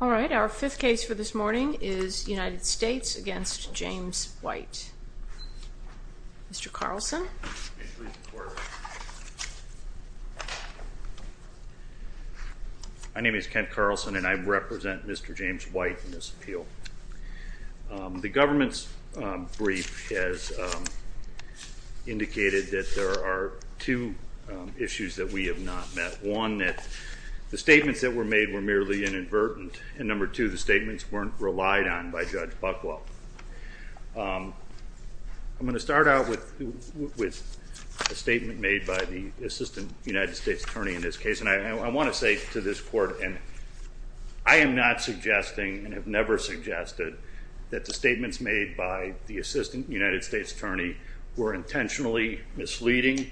All right, our fifth case for this morning is United States v. James White. Mr. Carlson? My name is Kent Carlson and I represent Mr. James White in this appeal. The government's brief has indicated that there are two issues that we have not met. One, that the statements that were made were merely inadvertent, and number two, the statements weren't relied on by Judge Buckwell. I'm going to start out with a statement made by the Assistant United States Attorney in this case, and I want to say to this Court, I am not suggesting, and have never suggested, that the statements made by the Assistant United States Attorney were intentionally misleading,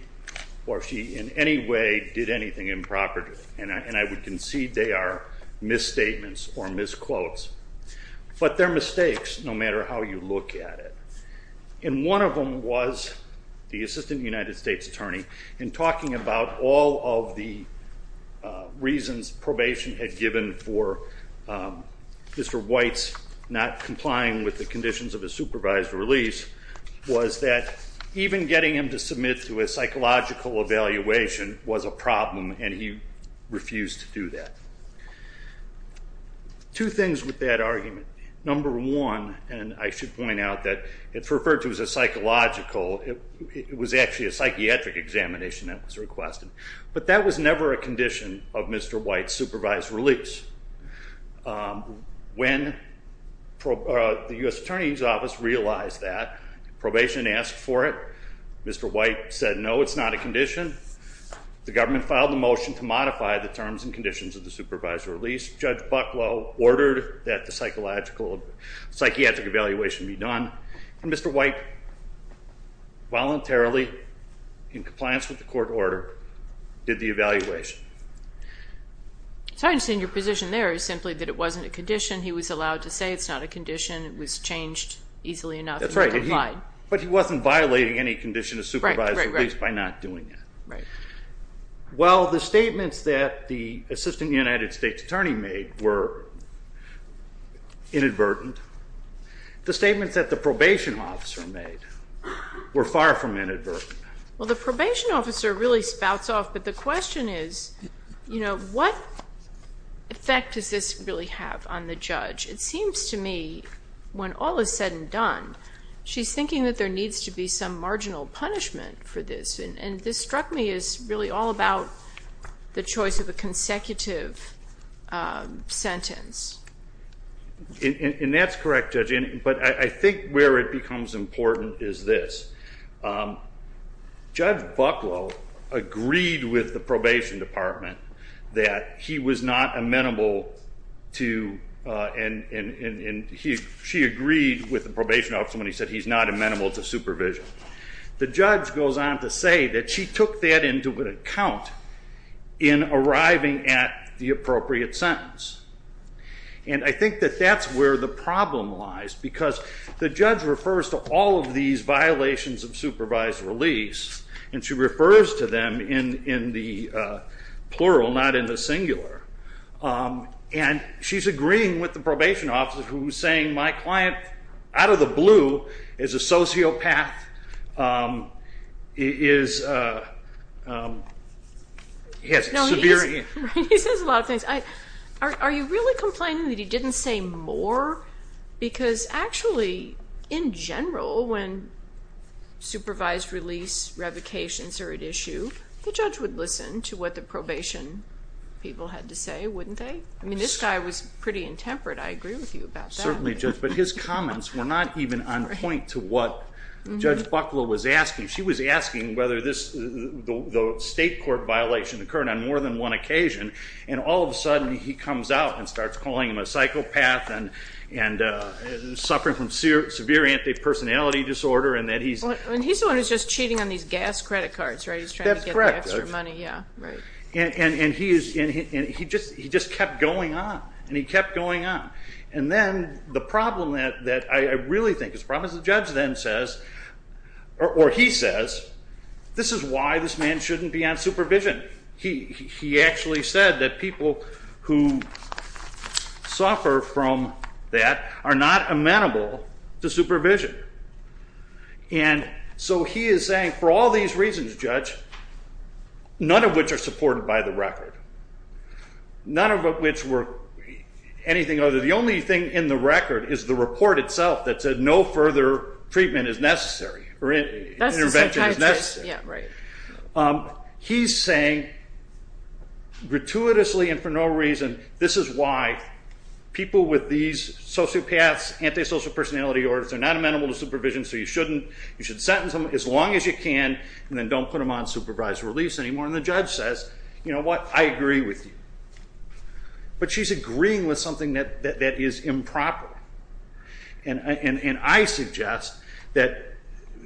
or she in any way did anything improper, and I would concede they are misstatements or misquotes. But they're mistakes, no matter how you look at it. And one of them was, the Assistant United States Attorney, in talking about all of the reasons probation had given for Mr. White's not complying with the conditions of his supervised release, was that even getting him to submit to a psychological evaluation was a problem, and he refused to do that. Two things with that argument. Number one, and I should point out that it's referred to as a psychological, it was actually a psychiatric examination that was requested. But that was never a condition of Mr. White's supervised release. When the U.S. Attorney's Office realized that, probation asked for it. Mr. White said no, it's not a condition. The government filed a motion to modify the terms and conditions of the supervised release. Judge Bucklow ordered that the psychological, psychiatric evaluation be done, and Mr. White voluntarily, in compliance with the court order, did the evaluation. So I understand your position there is simply that it wasn't a condition, he was allowed to say it's not a condition, it was changed easily enough, and he complied. But he wasn't violating any condition of supervised release by not doing it. While the statements that the Assistant United States Attorney made were inadvertent, the statements that the probation officer made were far from inadvertent. Well, the probation officer really spouts off, but the question is, what effect does this really have on the judge? It seems to me, when all is said and done, she's thinking that there needs to be some marginal punishment for this. And this struck me as really all about the choice of a consecutive sentence. And that's correct, Judge, but I think where it becomes important is this. Judge Bucklow agreed with the probation department that he was not amenable to, and she agreed with the probation officer when he said he's not amenable to supervision. The judge goes on to say that she took that into account in arriving at the appropriate sentence. And I think that that's where the problem lies, because the judge refers to all of these violations of supervised release, and she refers to them in the plural, not in the singular. And she's agreeing with the probation officer, who's saying my client, out of the blue, is a sociopath. He says a lot of things. Are you really complaining that he didn't say more? Because actually, in general, when supervised release revocations are at issue, the judge would listen to what the probation people had to say, wouldn't they? I mean, this guy was pretty intemperate. I agree with you about that. Certainly, Judge, but his comments were not even on point to what Judge Bucklow was asking. She was asking whether the state court violation occurred on more than one occasion, and all of a sudden, he comes out and starts calling him a psychopath and suffering from severe antipersonality disorder. And he's the one who's just cheating on these gas credit cards, right? That's correct. He's trying to get the extra money, yeah. And he just kept going on, and he kept going on. And then the problem that I really think is the problem is the judge then says, or he says, this is why this man shouldn't be on supervision. He actually said that people who suffer from that are not amenable to supervision. And so he is saying, for all these reasons, Judge, none of which are supported by the record, none of which were anything other than the only thing in the record is the report itself that said no further treatment is necessary or intervention is necessary. He's saying, gratuitously and for no reason, this is why people with these sociopaths, antisocial personality disorders, they're not amenable to supervision, so you shouldn't. You should sentence them as long as you can, and then don't put them on supervised release anymore. And the judge says, you know what, I agree with you. But she's agreeing with something that is improper. And I suggest that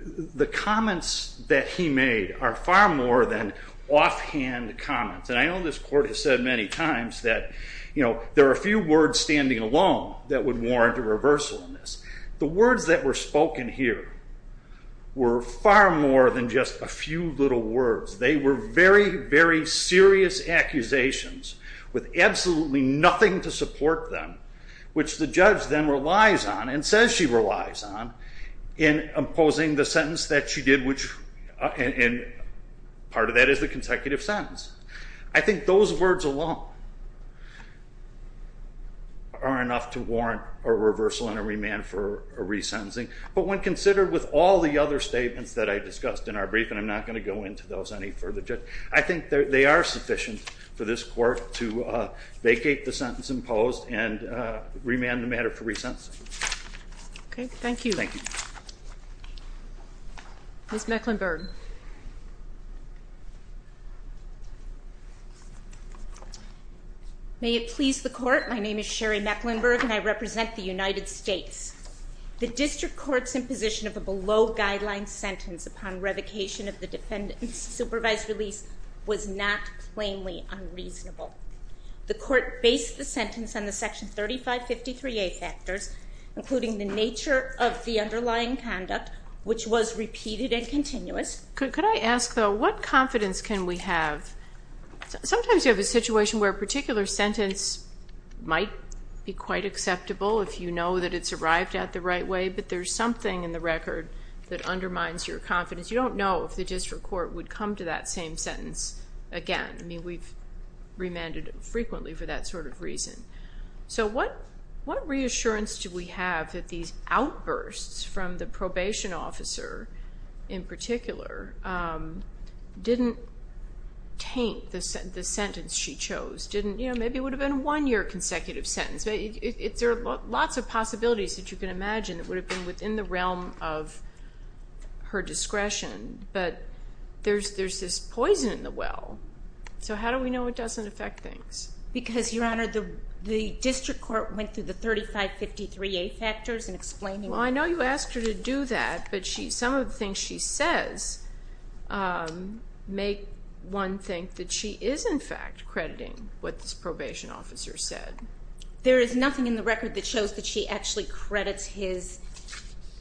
the comments that he made are far more than offhand comments. And I know this court has said many times that there are a few words standing alone that would warrant a reversal in this. The words that were spoken here were far more than just a few little words. They were very, very serious accusations with absolutely nothing to support them, which the judge then relies on and says she relies on in imposing the sentence that she did, and part of that is the consecutive sentence. I think those words alone are enough to warrant a reversal and a remand for resentencing. But when considered with all the other statements that I discussed in our briefing, I'm not going to go into those any further. I think they are sufficient for this court to vacate the sentence imposed and remand the matter for resentencing. Okay, thank you. Thank you. Ms. Mecklenburg. May it please the court, my name is Sherry Mecklenburg and I represent the United States. The district court's imposition of a below-guideline sentence upon revocation of the defendant's supervised release was not plainly unreasonable. The court based the sentence on the Section 3553A factors, including the nature of the underlying conduct, which was repeated and continuous. Could I ask, though, what confidence can we have? Sometimes you have a situation where a particular sentence might be quite acceptable if you know that it's arrived at the right way, but there's something in the record that undermines your confidence. You don't know if the district court would come to that same sentence again. I mean, we've remanded frequently for that sort of reason. So what reassurance do we have that these outbursts from the probation officer, in particular, didn't taint the sentence she chose? Maybe it would have been a one-year consecutive sentence. There are lots of possibilities that you can imagine that would have been within the realm of her discretion, but there's this poison in the well. So how do we know it doesn't affect things? Because, Your Honor, the district court went through the 3553A factors and explained it. Well, I know you asked her to do that, but some of the things she says make one think that she is, in fact, crediting what this probation officer said. There is nothing in the record that shows that she actually credits his...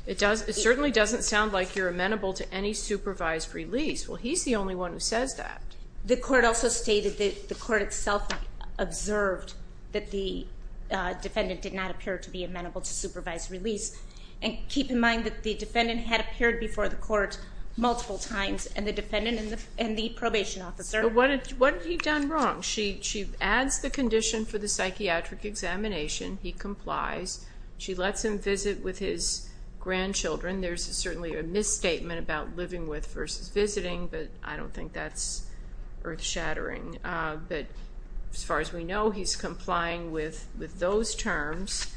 It certainly doesn't sound like you're amenable to any supervised release. Well, he's the only one who says that. The court also stated that the court itself observed that the defendant did not appear to be amenable to supervised release. And keep in mind that the defendant had appeared before the court multiple times, and the defendant and the probation officer... What had he done wrong? She adds the condition for the psychiatric examination. He complies. She lets him visit with his grandchildren. There's certainly a misstatement about living with versus visiting, but I don't think that's earth-shattering. But as far as we know, he's complying with those terms.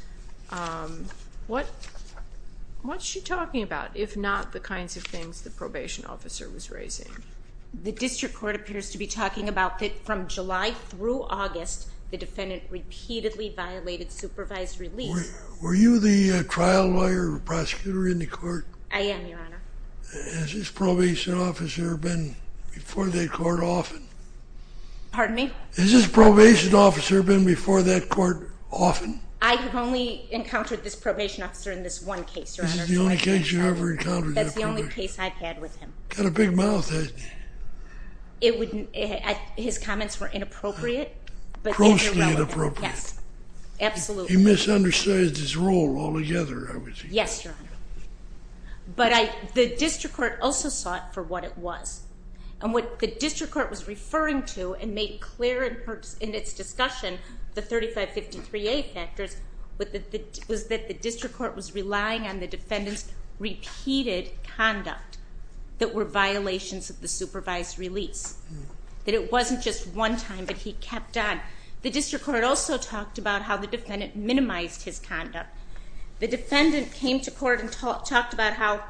What's she talking about, if not the kinds of things the probation officer was raising? The district court appears to be talking about that from July through August, the defendant repeatedly violated supervised release. Were you the trial lawyer or prosecutor in the court? I am, Your Honor. Has this probation officer been before that court often? Pardon me? Has this probation officer been before that court often? I have only encountered this probation officer in this one case, Your Honor. This is the only case you ever encountered that probation officer? That's the only case I've had with him. Got a big mouth, hasn't he? His comments were inappropriate. Grossly inappropriate. Yes, absolutely. He misunderstood his role altogether, I would think. Yes, Your Honor. But the district court also sought for what it was. And what the district court was referring to and made clear in its discussion, the 3553A factors, was that the district court was relying on the defendant's repeated conduct. That were violations of the supervised release. That it wasn't just one time, but he kept on. The district court also talked about how the defendant minimized his conduct. The defendant came to court and talked about how,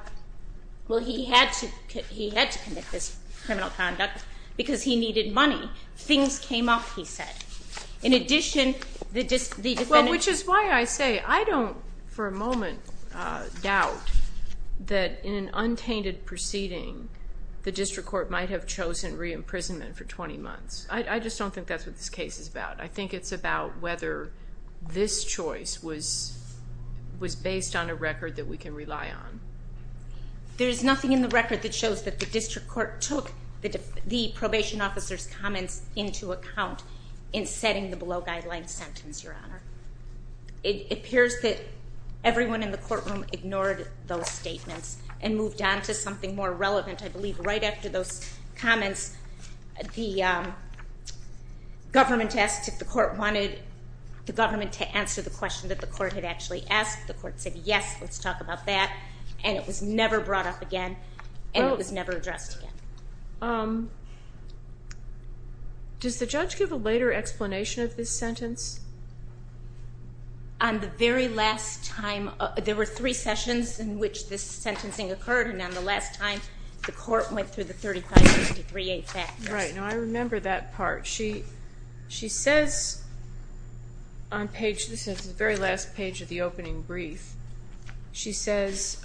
well, he had to commit this criminal conduct because he needed money. Things came up, he said. In addition, the defendant... The district court might have chosen re-imprisonment for 20 months. I just don't think that's what this case is about. I think it's about whether this choice was based on a record that we can rely on. There's nothing in the record that shows that the district court took the probation officer's comments into account in setting the below guidelines sentence, Your Honor. It appears that everyone in the courtroom ignored those statements and moved on to something more relevant, I believe, right after those comments. The government asked if the court wanted the government to answer the question that the court had actually asked. The court said, yes, let's talk about that. And it was never brought up again, and it was never addressed again. Does the judge give a later explanation of this sentence? On the very last time... There were three sessions in which this sentencing occurred, and on the last time, the court went through the 3563A factors. Right. Now, I remember that part. She says on page... This is the very last page of the opening brief. She says,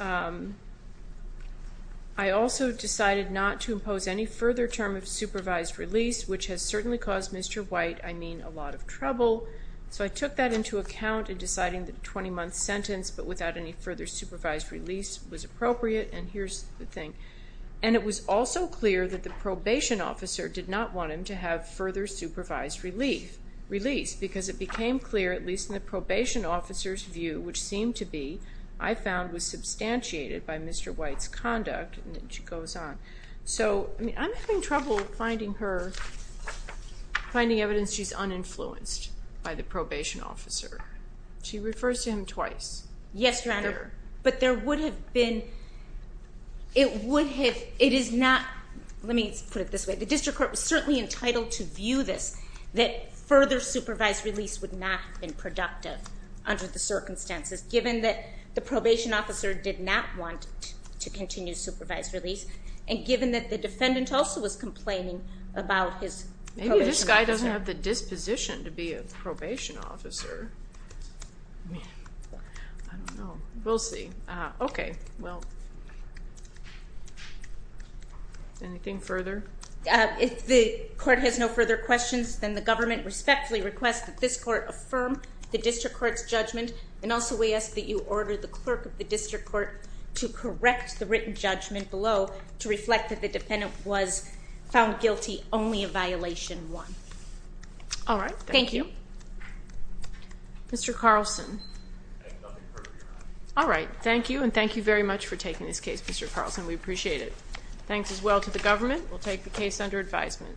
I also decided not to impose any further term of supervised release, which has certainly caused Mr. White, I mean, a lot of trouble. So I took that into account in deciding the 20-month sentence, but without any further supervised release was appropriate. And here's the thing. And it was also clear that the probation officer did not want him to have further supervised release, because it became clear, at least in the probation officer's view, which seemed to be, I found, was substantiated by Mr. White's conduct, and it goes on. So, I mean, I'm having trouble finding her... finding evidence she's uninfluenced by the probation officer. She refers to him twice. Yes, Your Honor. But there would have been... It would have... It is not... Let me put it this way. The district court was certainly entitled to view this, that further supervised release would not have been productive under the circumstances, given that the probation officer did not want to continue supervised release, and given that the defendant also was complaining about his probation officer. Maybe this guy doesn't have the disposition to be a probation officer. I don't know. We'll see. Okay. Well... Anything further? If the court has no further questions, then the government respectfully requests that this court affirm the district court's judgment, and also we ask that you order the clerk of the district court to correct the written judgment below to reflect that the defendant was found guilty only of violation one. All right. Thank you. Thank you. Mr. Carlson. I have nothing further, Your Honor. All right. Thank you, and thank you very much for taking this case, Mr. Carlson. We appreciate it. Thanks as well to the government. We'll take the case under advisement.